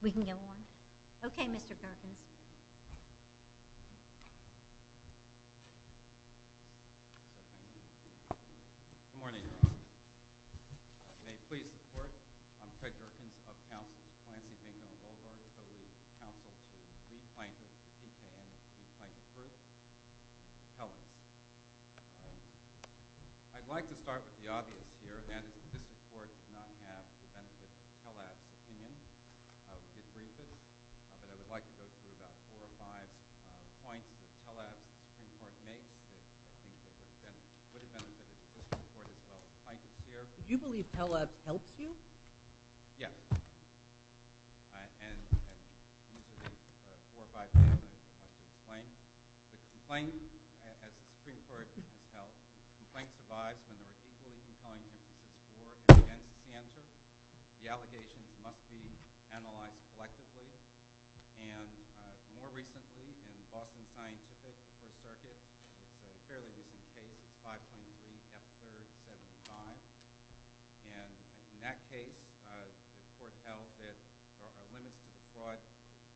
We can go on. Okay, Mr. Gerkens. Good morning, everyone. I may please report. I'm Fred Gerkens of Councils. Clancy Bingham Goldberg, Co-Leader of the Council for the Sweet Plankton of TKM Sweet Plankton Fruit. Hellas. I'd like to start with the obvious here, that this report does not have the benefits of Telab's opinion. We did brief it, but I would like to go through about four or five points that Telab's Supreme Court makes that I think would have benefited the Supreme Court as well as the plaintiffs here. Do you believe Telab helps you? Yes. And these are the four or five things I would like to explain. The complaint, as the Supreme Court has held, the complaint survives when there are equally compelling emphases for and against the answer. The allegations must be analyzed collectively. And more recently, in Boston Scientific, the First Circuit, there was a fairly recent case, 5.3 F3 75. And in that case, the court held that there are limits to the fraud.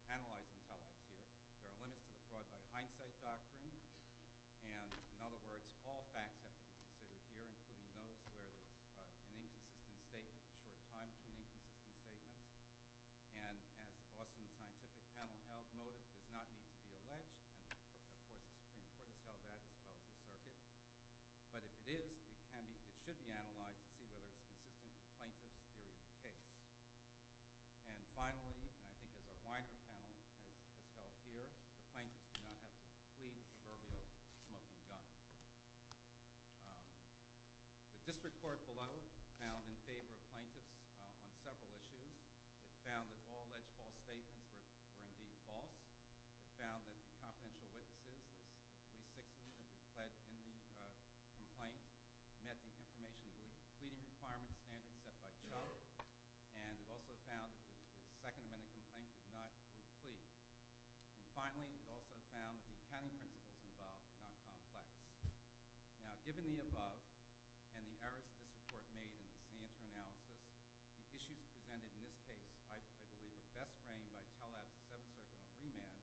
Analyzing Telab here, there are limits to the fraud by hindsight doctrine. And in other words, all facts have to be considered here, including those where there's an inconsistent statement, a short time to an inconsistent statement. And as Boston Scientific panel held, motive does not need to be alleged. And the Supreme Court has held that as well as the circuit. But if it is, it should be analyzed to see whether it's consistent with the plaintiff's theory of the case. And finally, and I think as our wider panel has held here, the plaintiffs do not have to plead for a real smoking gun. The district court below found in favor of plaintiffs on several issues. It found that all alleged false statements were indeed false. It found that the confidential witnesses, at least six of them who pledged in the complaint, met the information that was in the pleading requirements standard set by Chuck. And it also found that the Second Amendment complaint did not include a plea. And finally, it also found that the accounting principles involved were not complex. Now, given the above and the errors of this report made in the Santer analysis, the issues presented in this case, I believe, were best framed by Talab's Seventh Circuit on remand.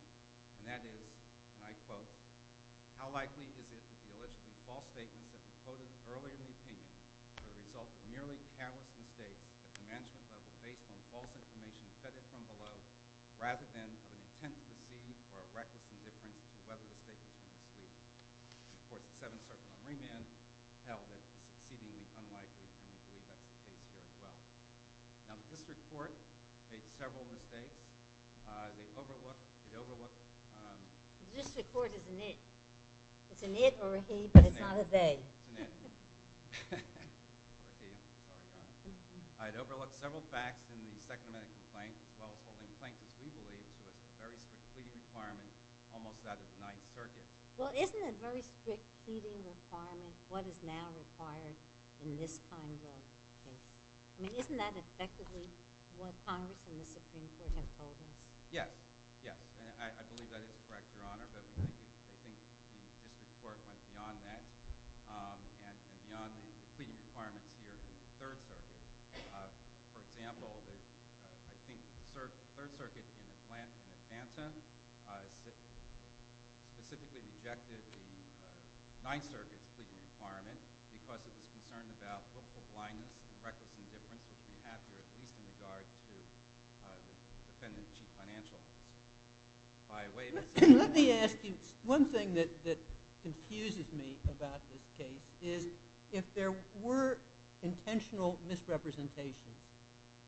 And that is, and I quote, how likely is it that the allegedly false statements that were quoted earlier in the opinion were the result of a merely careless mistake at the management level based on false information fedded from below rather than of an intent to deceive or a reckless indifference to whether the statements were misleading. This report's Seventh Circuit on remand held it as exceedingly unlikely, and we believe that's the case here as well. Now, the district court made several mistakes. They overlooked, it overlooked... The district court is an it. It's an it or a he, but it's not a they. It's an it. Or a he, I'm sorry. It overlooked several facts in the Second Amendment complaint, as well as holding plaintiffs, we believe, to a very strict pleading requirement almost out of the Ninth Circuit. Well, isn't a very strict pleading requirement what is now required in this kind of case? I mean, isn't that effectively what Congress and the Supreme Court have told us? Yes, yes. I believe that is correct, Your Honor, but I think the district court went beyond that and beyond the pleading requirements here. For example, I think the Third Circuit in Atlanta, specifically rejected the Ninth Circuit's pleading requirement because it was concerned about political blindness and reckless indifference, which we have here, at least in regard to the defendant's chief financial officer. Let me ask you one thing that confuses me about this case, is if there were intentional misrepresentation,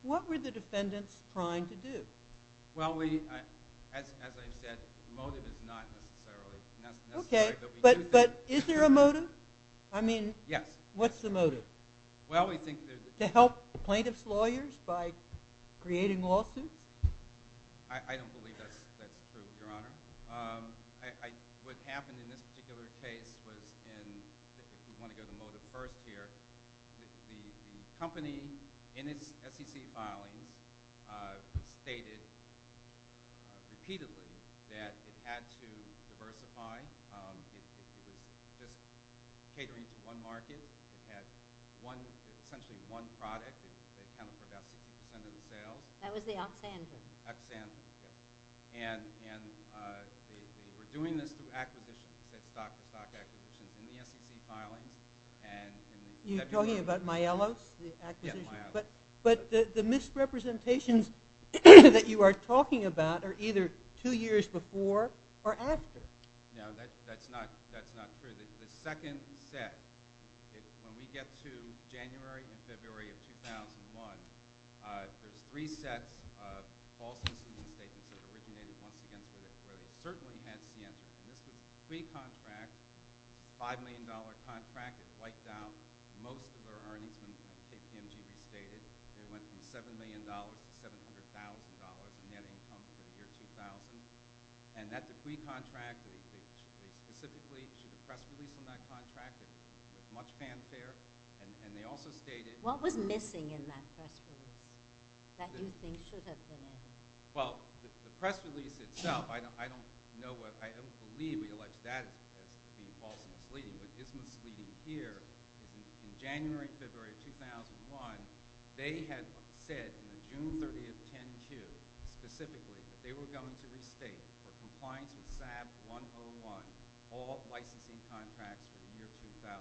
what were the defendants trying to do? Well, as I've said, the motive is not necessarily necessary. Okay, but is there a motive? Yes. I mean, what's the motive? Well, we think that— To help plaintiffs' lawyers by creating lawsuits? I don't believe that's true, Your Honor. What happened in this particular case was— if we want to go to the motive first here— the company, in its SEC filings, stated repeatedly that it had to diversify. It was just catering to one market. It had essentially one product that accounted for about 60% of the sales. That was the Oxandra? Oxandra, yes. And they were doing this through acquisitions, stock-to-stock acquisitions in the SEC filings. You're talking about Mayellos, the acquisitions? Yes, Mayellos. But the misrepresentations that you are talking about are either two years before or after. No, that's not true. The second set, when we get to January and February of 2001, there's three sets of false misrepresentations that originated, once again, where they certainly had Sienta. And this was a decree contract, $5 million contract. It wiped out most of their earnings when KPMG restated. It went from $7 million to $700,000 in net income for the year 2000. And that decree contract, they specifically issued a press release on that contract. It was much fanfare. And they also stated— What was missing in that press release that you think should have been in it? Well, the press release itself, I don't know what— I don't believe we allege that as being false misleading. What is misleading here is in January and February of 2001, they had said in the June 30th 10-Q, specifically, that they were going to restate for compliance with SAB 101 all licensing contracts for the year 2000.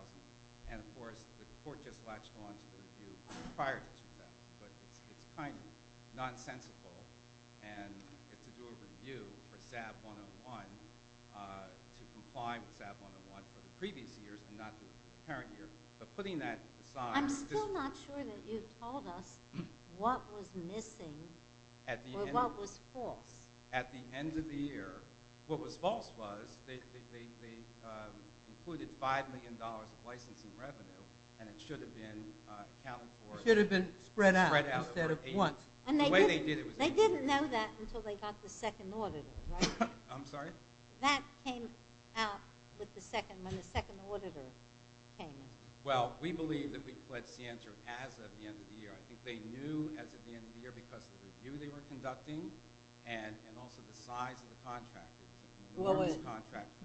And, of course, the court just latched on to the review prior to June 30th. But it's kind of nonsensical. And to do a review for SAB 101 to comply with SAB 101 for the previous years and not the current year, but putting that aside— I'm still not sure that you told us what was missing or what was false. At the end of the year, what was false was they included $5 million of licensing revenue, and it should have been accounted for. It should have been spread out instead of once. The way they did it was— They didn't know that until they got the second auditor, right? I'm sorry? That came out when the second auditor came in. Well, we believe that we fled Sientra as of the end of the year. I think they knew as of the end of the year because of the review they were conducting and also the size of the contract.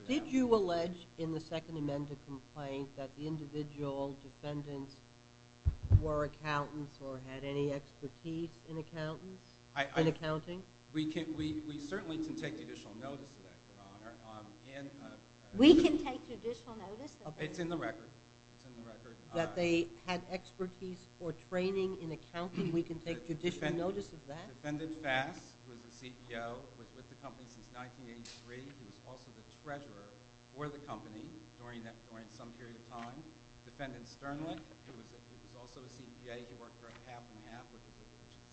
Did you allege in the Second Amendment complaint that the individual defendants were accountants or had any expertise in accountants, in accounting? We certainly can take judicial notice of that, Your Honor. We can take judicial notice of that? It's in the record. That they had expertise or training in accounting, we can take judicial notice of that? Defendant Fass, who is the CPO, was with the company since 1983. He was also the treasurer for the company during some period of time. Defendant Sternlich, who was also a CPA, he worked for a cap and a half with a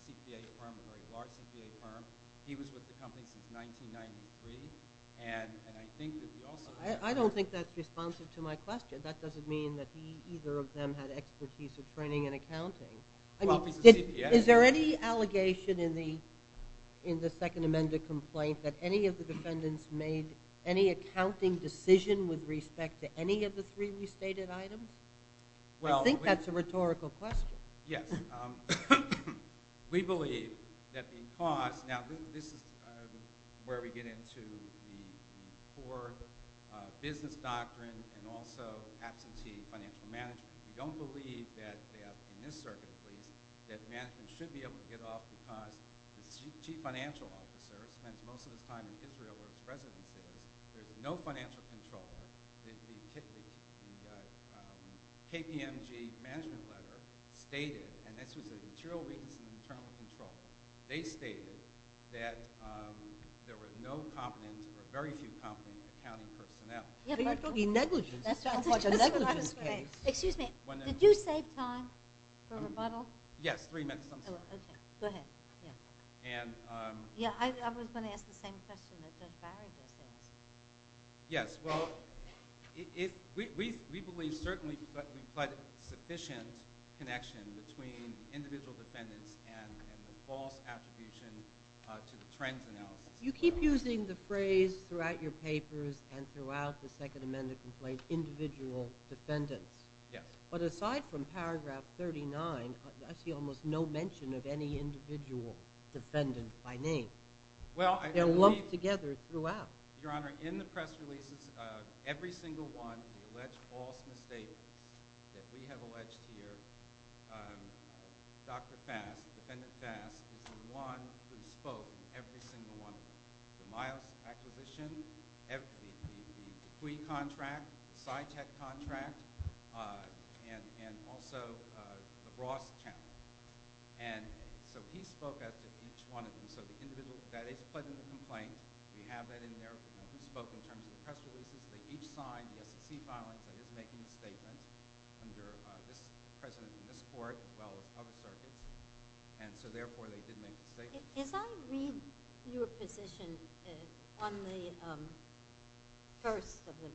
CPA firm, a very large CPA firm. He was with the company since 1993. And I think that he also— I don't think that's responsive to my question. That doesn't mean that either of them had expertise or training in accounting. Well, if he's a CPA— Is there any allegation in the Second Amendment complaint that any of the defendants made any accounting decision with respect to any of the three restated items? I think that's a rhetorical question. Yes. We believe that because— Now, this is where we get into the core business doctrine and also absentee financial management. We don't believe that, in this circuit at least, that management should be able to get off because the chief financial officer spends most of his time in Israel, where his residence is. There's no financial control. The KPMG management letter stated— and this was a material weakness in internal control. They stated that there were no competent or very few competent accounting personnel. You're talking negligence. That's a negligence case. Excuse me. Did you save time for rebuttal? Yes, three minutes. Oh, okay. Go ahead. I was going to ask the same question that Judge Barry just asked. Yes. Well, we believe certainly that we've got sufficient connection between individual defendants and the false attribution to the trends analysis. You keep using the phrase throughout your papers and throughout the Second Amendment complaint, individual defendants. Yes. But aside from paragraph 39, I see almost no mention of any individual defendant by name. They're lumped together throughout. Your Honor, in the press releases, every single one of the alleged false misstatements that we have alleged here, Dr. Fass, defendant Fass, is the one who spoke in every single one of them. The Miles Acquisition, the CUI contract, the SciTech contract, and also the Ross account. And so he spoke at each one of them. So the individual that is put in the complaint, we have that in there. We know who spoke in terms of the press releases. They each signed the SEC filing, but it's making a statement under this president and this court as well as other circuits. And so, therefore, they did make the statement. As I read your position on the first of the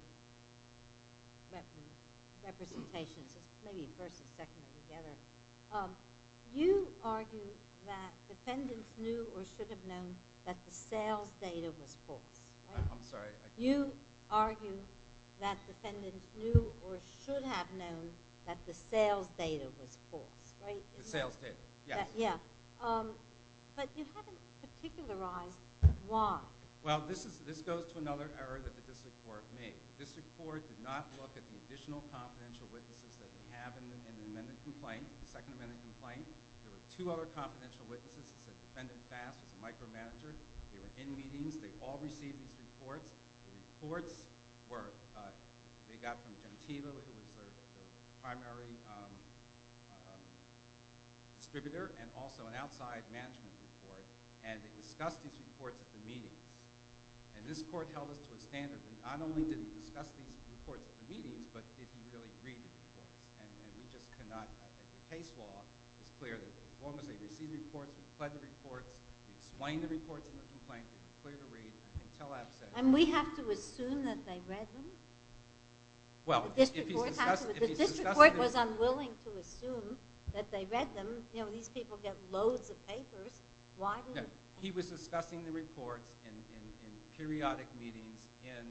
representations, maybe first and second are together, you argue that defendants knew or should have known that the sales data was false. I'm sorry? You argue that defendants knew or should have known that the sales data was false. The sales data, yes. But you haven't particularized why. Well, this goes to another error that the district court made. The district court did not look at the additional confidential witnesses that we have in the amended complaint, the second amended complaint. There were two other confidential witnesses. It said defendant Fass was a micromanager. They were in meetings. They all received these reports. The reports were they got from Gentivo, who was the primary distributor and also an outside management report, and they discussed these reports at the meetings. And this court held us to a standard that not only did it discuss these reports at the meetings, but did you really read the reports. And we just could not. The case law is clear that as long as they receive reports, we fled the reports, we explained the reports in the complaint, we were clear to read, and they tell us that... And we have to assume that they read them? The district court was unwilling to assume that they read them. These people get loads of papers. He was discussing the reports in periodic meetings and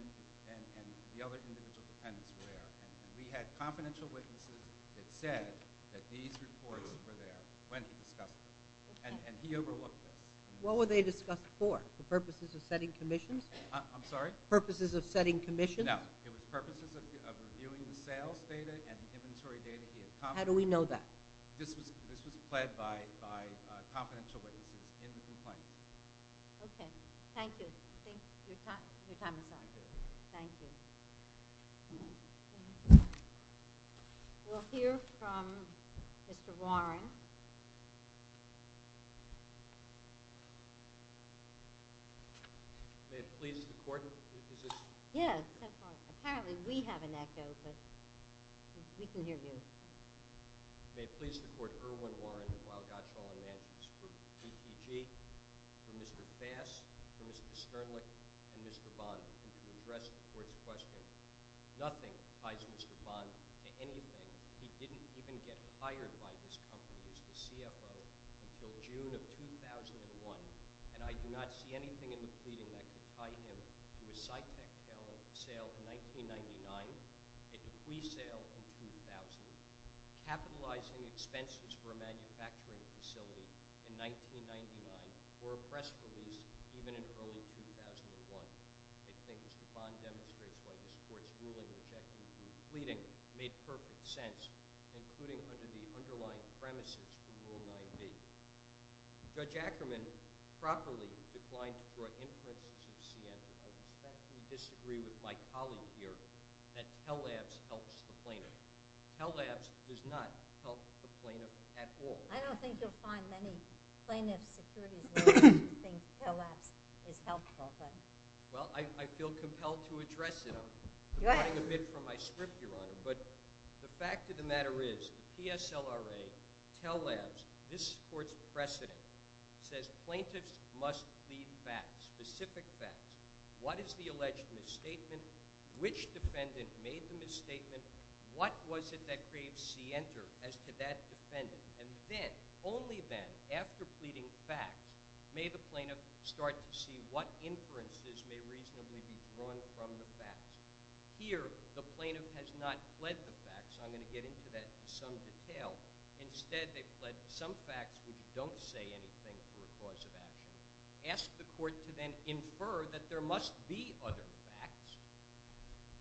the other individual defendants were there. And we had confidential witnesses that said that these reports were there when he discussed them. And he overlooked this. What were they discussed for? For purposes of setting commissions? I'm sorry? Purposes of setting commissions? No. It was purposes of reviewing the sales data and the inventory data he had. How do we know that? This was pled by confidential witnesses in the complaint. Okay. Thank you. Your time is up. Thank you. We'll hear from Mr. Warren. May it please the court, your position? Yes. Apparently we have an echo, but we can hear you. May it please the court, Irwin Warren of Wild Gottschall and Manchester Group, PPG, for Mr. Bass, for Mr. Sternlich, and Mr. Bond, to address the court's question. Nothing ties Mr. Bond to anything. He didn't even get hired by this company as the CFO until June of 2001, and I do not see anything in the pleading that could tie him to a Cytec-L sale in 1999, a Dewey sale in 2000, capitalizing expenses for a manufacturing facility in 1999, or a press release even in early 2001. I think Mr. Bond demonstrates why this court's ruling objecting to the pleading made perfect sense, including under the underlying premises of Rule 9b. Judge Ackerman, properly declined to draw inferences of Sienna. I respectfully disagree with my colleague here that Tell Labs helps the plaintiff. Tell Labs does not help the plaintiff at all. I don't think you'll find many plaintiff securities lawyers who think Tell Labs is helpful. Well, I feel compelled to address it. I'm running a bit from my script, Your Honor. But the fact of the matter is, PSLRA, Tell Labs, this court's precedent, says plaintiffs must plead facts, specific facts. What is the alleged misstatement? Which defendant made the misstatement? What was it that created scienter as to that defendant? And then, only then, after pleading facts, may the plaintiff start to see what inferences may reasonably be drawn from the facts. Here, the plaintiff has not pled the facts. I'm going to get into that in some detail. Instead, they've pled some facts, which don't say anything for a cause of action. Ask the court to then infer that there must be other facts,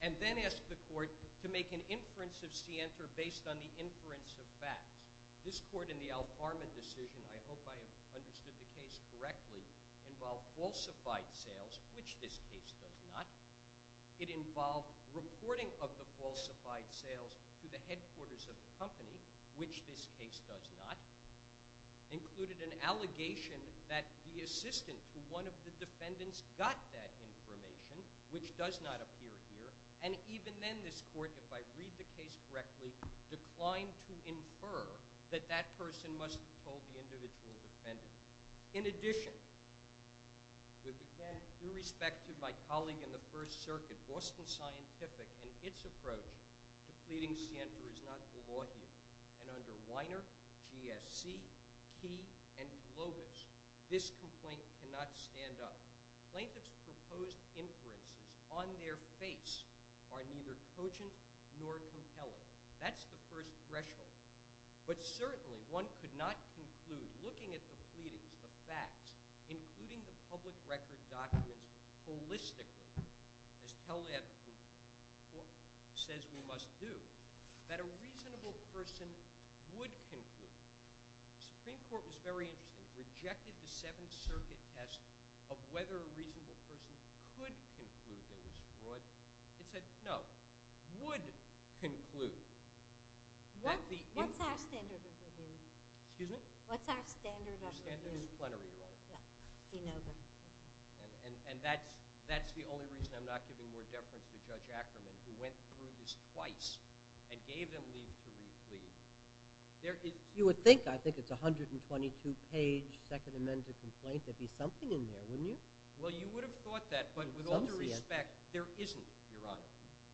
and then ask the court to make an inference of scienter based on the inference of facts. This court, in the Al Parma decision, I hope I understood the case correctly, involved falsified sales, which this case does not. It involved reporting of the falsified sales to the headquarters of the company, which this case does not. It included an allegation that the assistant to one of the defendants got that information, which does not appear here. And even then, this court, if I read the case correctly, declined to infer that that person must have told the individual defendant. In addition, with respect to my colleague in the First Circuit, Boston Scientific, and its approach to pleading scienter is not the law here. And under Weiner, GSC, Key, and Globus, this complaint cannot stand up. Plaintiff's proposed inferences on their face are neither cogent nor compelling. That's the first threshold. But certainly, one could not conclude, looking at the pleadings, the facts, including the public record documents, holistically, as teleethical court says we must do, that a reasonable person would conclude. The Supreme Court was very interesting. It rejected the Seventh Circuit test of whether a reasonable person could conclude that it was fraud. It said, no, would conclude. What's our standard of review? Excuse me? What's our standard of review? Disciplinary, Your Honor. And that's the only reason I'm not giving more deference to Judge Ackerman, who went through this twice and gave them leave to replead. You would think, I think it's a 122-page Second Amendment complaint. There'd be something in there, wouldn't you? Well, you would have thought that. But with all due respect, there isn't, Your Honor.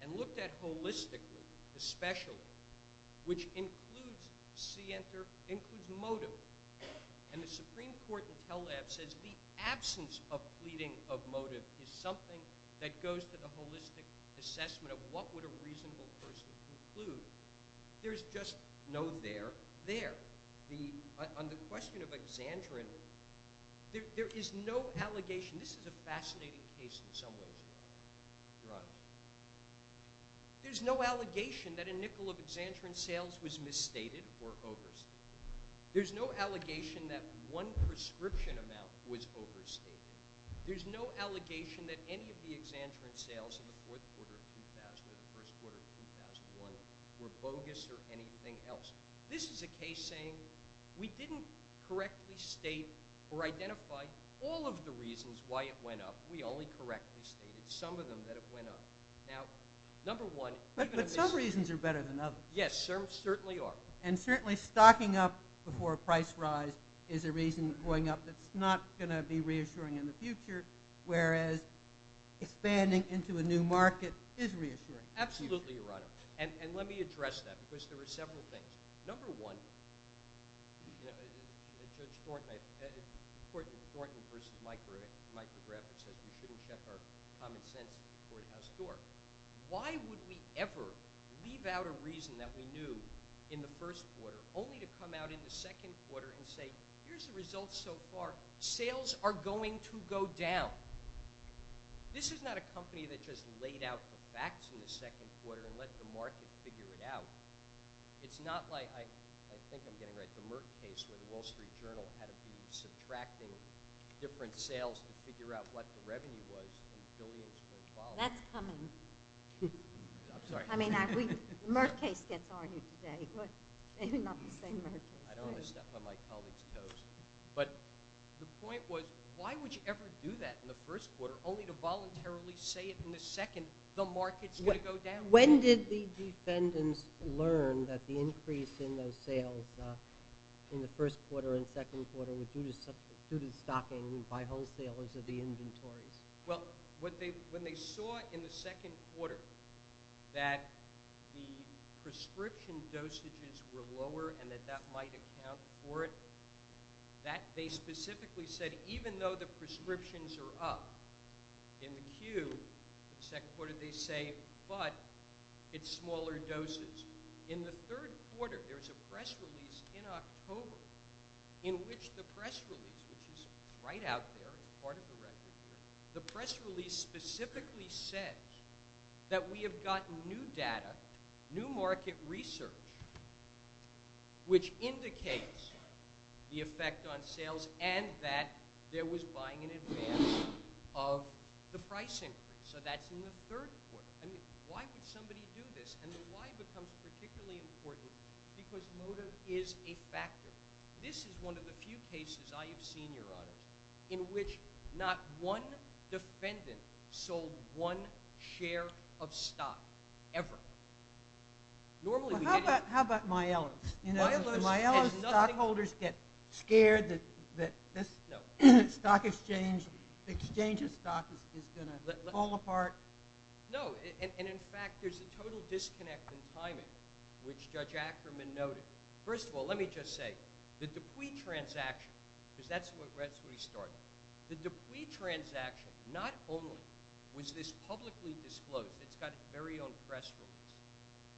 And looked at holistically, especially, which includes scienter, includes motive. And the Supreme Court in Tel Aviv says the absence of pleading of motive is something that goes to the holistic assessment of what would a reasonable person conclude. There's just no there. There. On the question of Exandrin, there is no allegation. This is a fascinating case in some ways, Your Honor. There's no allegation that a nickel of Exandrin sales was misstated or overstated. There's no allegation that one prescription amount was overstated. There's no allegation that any of the Exandrin sales in the fourth quarter of 2000 or the first quarter of 2001 were bogus or anything else. This is a case saying, we didn't correctly state or identify all of the reasons why it went up. We only correctly stated some of them that it went up. Now, number one. But some reasons are better than others. Yes, certainly are. And certainly, stocking up before a price rise is a reason going up that's not going to be reassuring in the future, whereas expanding into a new market is reassuring. Absolutely, Your Honor. And let me address that, because there are several things. Number one, Judge Thornton versus Mike McGrath says we shouldn't check our common sense at the courthouse door. Why would we ever leave out a reason that we knew in the first quarter, only to come out in the second quarter and say, here's the results so far. Sales are going to go down. This is not a company that just laid out the facts in the second quarter and let the market figure it out. It's not like, I think I'm getting it right, the Merck case where the Wall Street Journal had to be subtracting different sales to figure out what the revenue was in billions per volume. That's coming. I'm sorry. Merck case gets argued today. Maybe not the same Merck case. I don't want to step on my colleague's toes. But the point was, why would you ever do that in the first quarter, only to voluntarily say it in the second, the market's going to go down? When did the defendants learn that the increase in those sales in the first quarter and second quarter were due to stocking by wholesalers of the inventories? Well, when they saw in the second quarter that the prescription dosages were lower and that that might account for it, they specifically said, even though the prescriptions are up in the queue, in the second quarter they say, but it's smaller doses. In the third quarter, there was a press release in October in which the press release, which is right out there, the press release specifically said that we have gotten new data, new market research, which indicates the effect on sales and that there was buying in advance of the price increase. So that's in the third quarter. Why would somebody do this? And the why becomes particularly important because motive is a factor. This is one of the few cases I have seen, Your Honor, in which not one defendant sold one share of stock ever. Normally, we get it. Well, how about Mielos? In Mielos, stockholders get scared that this exchange of stock is going to fall apart. No, and in fact, there's a total disconnect in timing, which Judge Ackerman noted. First of all, let me just say, the Dupuy transaction, because that's where we started. The Dupuy transaction, not only was this publicly disclosed, it's got its very own press release.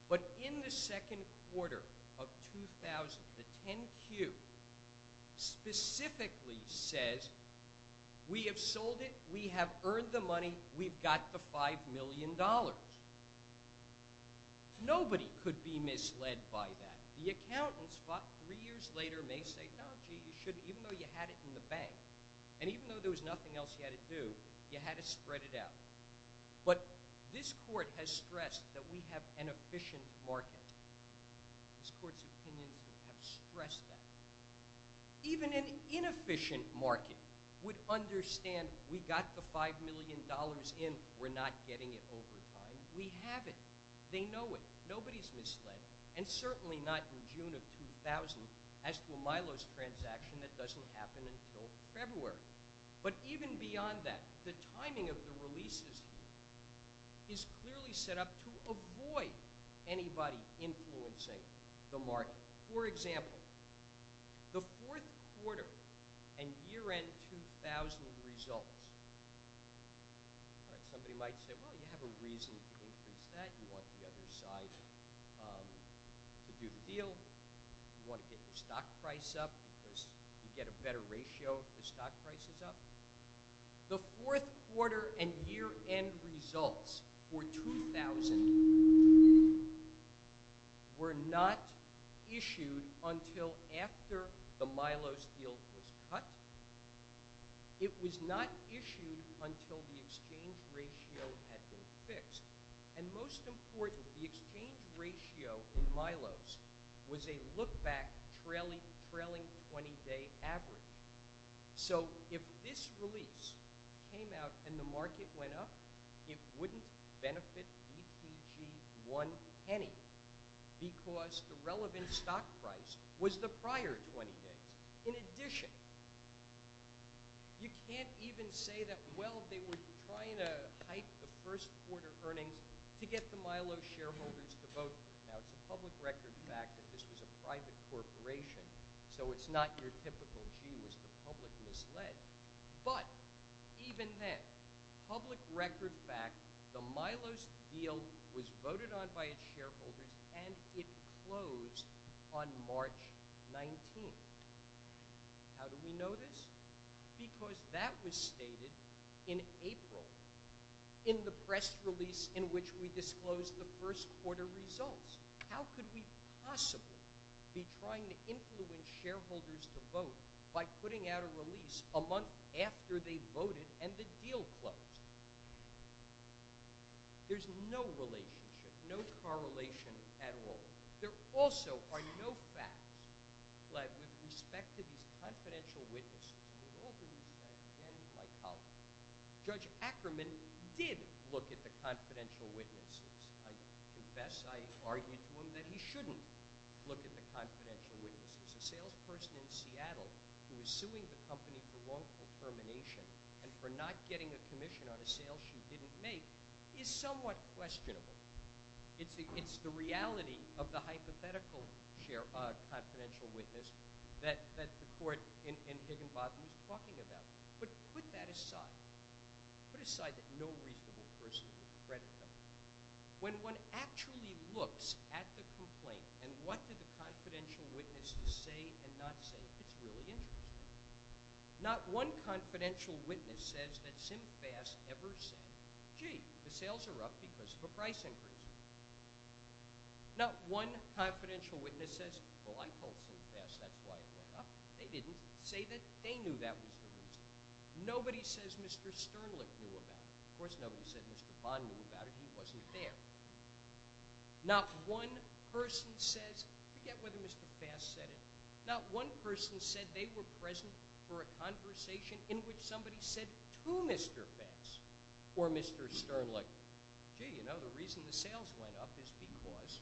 But in the second quarter of 2000, the 10Q specifically says, we have sold it, we have earned the money, we've got the $5 million. Nobody could be misled by that. The accountants, about three years later, may say, no, gee, you shouldn't, even though you had it in the bank. And even though there was nothing else you had to do, you had to spread it out. But this court has stressed that we have an efficient market. This court's opinions have stressed that. Even an inefficient market would understand, we got the $5 million in, we're not getting it over time. We have it. They know it. Nobody's misled. And certainly not in June of 2000. As for Milo's transaction, that doesn't happen until February. But even beyond that, the timing of the releases is clearly set up to avoid anybody influencing the market. For example, the fourth quarter and year-end 2000 results, somebody might say, well, you have a reason to increase that. You want the other side to do the deal. You want to get your stock price up, because you get a better ratio if the stock price is up. The fourth quarter and year-end results for 2000 were not issued until after the Milo's deal was cut. It was not issued until the exchange ratio had been fixed. And most important, the exchange ratio in Milo's was a look-back trailing 20-day average. So if this release came out and the market went up, it wouldn't benefit ETG1 any, because the relevant stock price was the prior 20 days. In addition, you can't even say that, well, they were trying to hype the first quarter earnings to get the Milo shareholders to vote. Now, it's a public record fact that this was a private corporation, so it's not your typical, gee, was the public misled. But even then, public record fact, the Milo's deal was voted on by its shareholders, and it closed on March 19. How do we know this? Because that was stated in April in the press release in which we disclosed the first quarter results. How could we possibly be trying to influence shareholders to vote by putting out a release a month after they voted and the deal closed? There's no relationship, no correlation at all. There also are no facts led with respect to these confidential witnesses. We all believe that, again, by policy. Judge Ackerman did look at the confidential witnesses. I confess I argued to him that he shouldn't look at the confidential witnesses. A salesperson in Seattle who is suing the company for wrongful termination and for not getting a commission on a sale she didn't make is somewhat questionable. It's the reality of the hypothetical confidential witness that the court in Higginbotham is talking about. But put that aside. Put aside that no reasonable person would credit them. When one actually looks at the complaint and what do the confidential witnesses say and not say, it's really interesting. Not one confidential witness says that SimFast ever said, gee, the sales are up because of a price increase. Not one confidential witness says, well, I called SimFast. That's why it went up. They didn't say that they knew that was the reason. Nobody says Mr. Sternlich knew about it. Of course, nobody said Mr. Bond knew about it. He wasn't there. Not one person says, forget whether Mr. Fast said it, not one person said they were present for a conversation in which somebody said to Mr. Fast or Mr. Sternlich, gee, you know, the reason the sales went up is because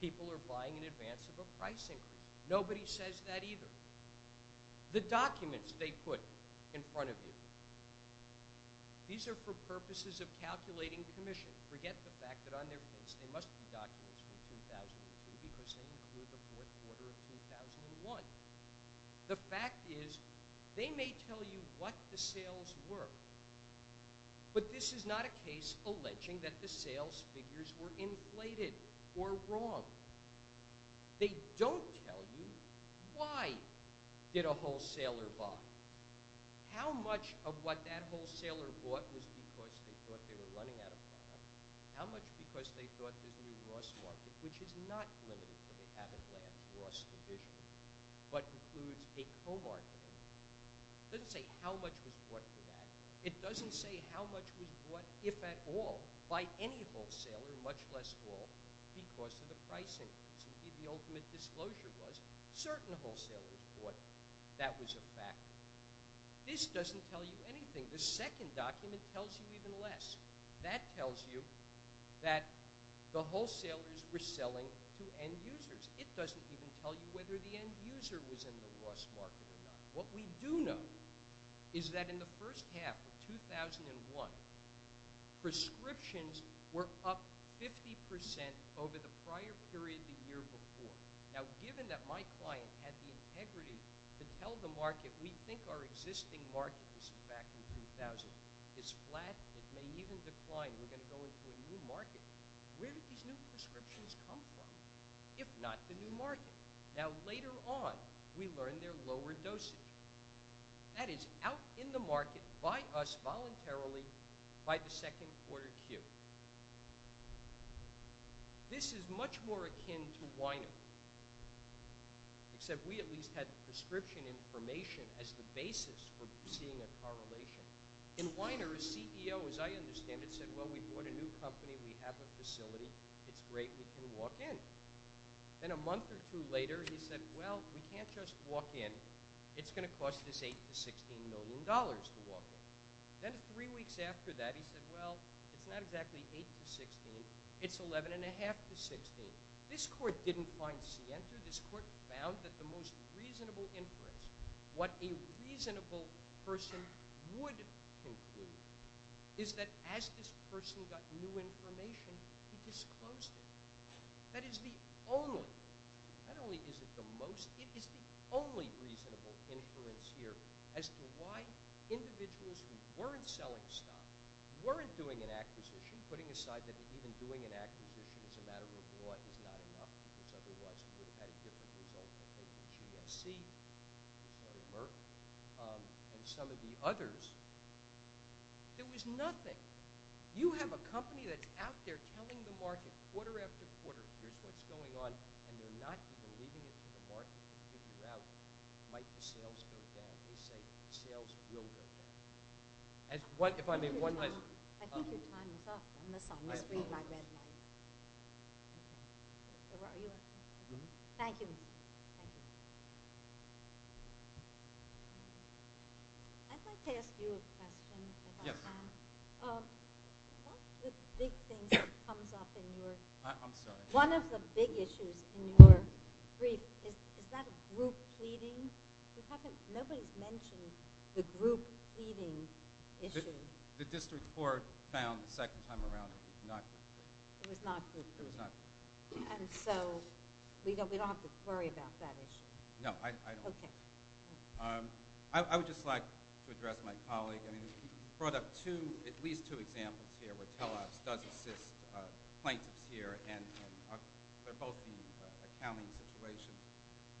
people are buying in advance of a price increase. Nobody says that either. The documents they put in front of you, these are for purposes of calculating commission. Forget the fact that on their plates they must be documents from 2003 because they include the fourth quarter of 2001. The fact is they may tell you what the sales were, but this is not a case alleging that the sales figures were inflated or wrong. They don't tell you why did a wholesaler buy? How much of what that wholesaler bought was because they thought they were running out of product? How much because they thought there's a new loss market, which is not limited to the Cabot-Lamb loss division, but includes a co-marketer? It doesn't say how much was bought for that. It doesn't say how much was bought, if at all, by any wholesaler, much less all, because of the price increase. The ultimate disclosure was certain wholesalers bought. That was a fact. This doesn't tell you anything. The second document tells you even less. That tells you that the wholesalers were selling to end users. It doesn't even tell you whether the end user was in the loss market or not. What we do know is that in the first half of 2001, prescriptions were up 50% over the prior period the year before. Now, given that my client had the integrity to tell the market, we think our existing market is back in 2000, it's flat, it may even decline, we're going to go into a new market. Where did these new prescriptions come from, if not the new market? Now, later on, we learned they're lower dosage. That is, out in the market, by us, voluntarily, by the second quarter Q. This is much more akin to Weiner, except we at least had prescription information as the basis for seeing a correlation. In Weiner, a CEO, as I understand it, said, well, we bought a new company, we have a facility, it's great, we can walk in. Then a month or two later, he said, well, we can't just walk in, it's going to cost us $8 to $16 million to walk in. Then three weeks after that, he said, well, it's not exactly $8 to $16, it's $11.5 to $16. This court didn't find scienter, this court found that the most reasonable inference, what a reasonable person would conclude, is that as this person got new information, he disclosed it. That is the only, not only is it the most, it is the only reasonable inference here as to why individuals who weren't selling stock, weren't doing an acquisition, putting aside that even doing an acquisition as a matter of law is not enough, because otherwise you would have had a different result than maybe GSC, sorry, Merck, and some of the others. There was nothing. You have a company that's out there telling the market quarter after quarter here's what's going on, and they're not even leaving it to the market to figure out might the sales go down. They say sales will go down. If I may, one last... I think your time is up. I must read my red light. Thank you. I'd like to ask you a question if I can. One of the big things that comes up in your... I'm sorry. One of the big issues in your brief, is that a group pleading? Nobody's mentioned the group pleading issue. The district court found the second time around it was not group pleading. It was not group pleading. It was not group pleading. And so we don't have to worry about that issue. No, I don't. Okay. I would just like to address my colleague. You brought up two, at least two examples here where Telops does assist plaintiffs here, and they're both in accounting situations.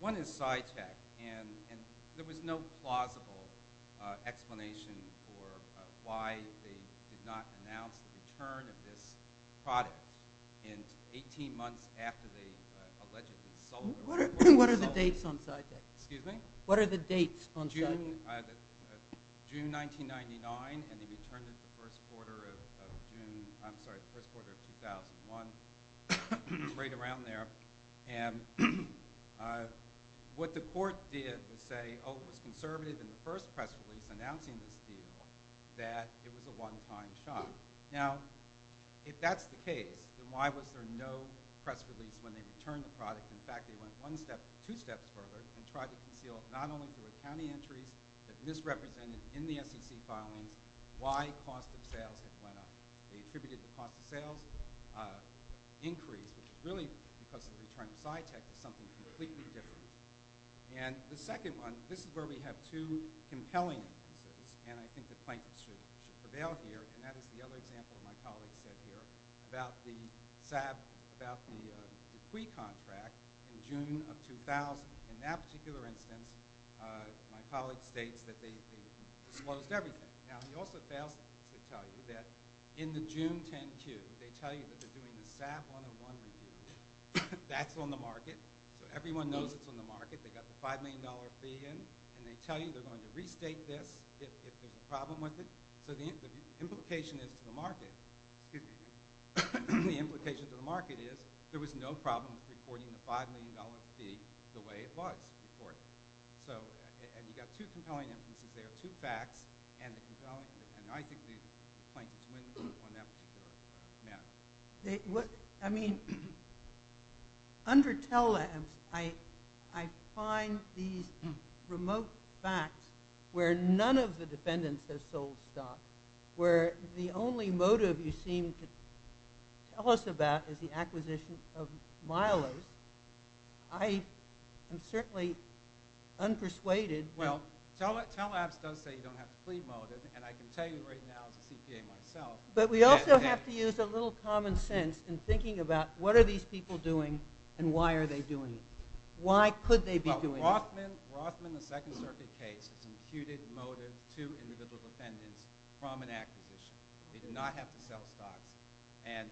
One is SciTech, and there was no plausible explanation for why they did not announce the return of this product in 18 months after they allegedly sold it. What are the dates on SciTech? Excuse me? What are the dates on SciTech? June 1999, and they returned it the first quarter of June. I'm sorry, the first quarter of 2001. It was right around there. And what the court did was say, oh, it was conservative in the first press release announcing this deal that it was a one-time shot. Now, if that's the case, then why was there no press release when they returned the product? In fact, they went two steps further and tried to conceal not only through accounting entries that misrepresented in the SEC filings why cost of sales had went up. They attributed the cost of sales increase, which really, because of the return of SciTech, was something completely different. And the second one, this is where we have two compelling instances, and I think the plaintiffs should prevail here, and that is the other example my colleague said here about the SAB, about the CUI contract in June of 2000, in that particular instance, my colleague states that they disclosed everything. Now, he also fails to tell you that in the June 10 Q, they tell you that they're doing the SAB 101 review. That's on the market, so everyone knows it's on the market. They got the $5 million fee in, and they tell you they're going to restate this if there's a problem with it. So the implication is to the market, the implication to the market is there was no problem with reporting the $5 million fee the way it was reported. So, and you got two compelling instances there, two facts, and the compelling, and I think the plaintiffs win on that particular matter. I mean, under Tell Labs, I find these remote facts where none of the defendants have sold stock, where the only motive you seem to tell us about is the acquisition of Milo's. I am certainly unpersuaded. Well, Tell Labs does say you don't have to plead motive, and I can tell you right now as a CPA myself. But we also have to use a little common sense in thinking about what are these people doing and why are they doing it. Why could they be doing it? Well, Rothman, the Second Circuit case, has imputed motive to individual defendants from an acquisition. They did not have to sell stocks, and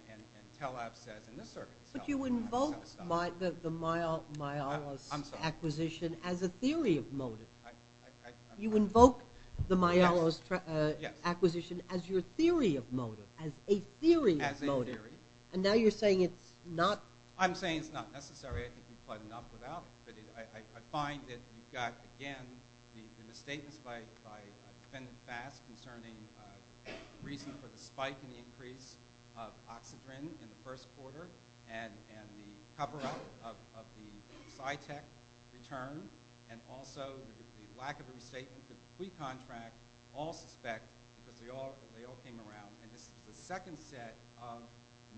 Tell Labs says in this circuit, But you invoke the Milo's acquisition as a theory of motive. You invoke the Milo's acquisition as your theory of motive, as a theory of motive. And now you're saying it's not... I'm saying it's not necessary. I think you've played enough without it. But I find that you've got, again, the statements by Defendant Bass concerning reason for the spike in the increase of Oxidrin in the first quarter and the cover-up of the SciTech return and also the lack of a restatement of the pre-contract all suspect because they all came around. And this is the second set of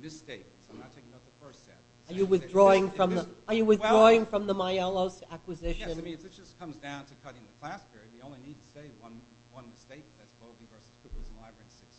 misstatements. I'm not taking note of the first set. Are you withdrawing from the Milo's acquisition? Yes, I mean, it just comes down to cutting the class barrier. You only need to say one mistake, and that's Bogey v. Krupp in the Library of Sixth Circuit. Thank you very much.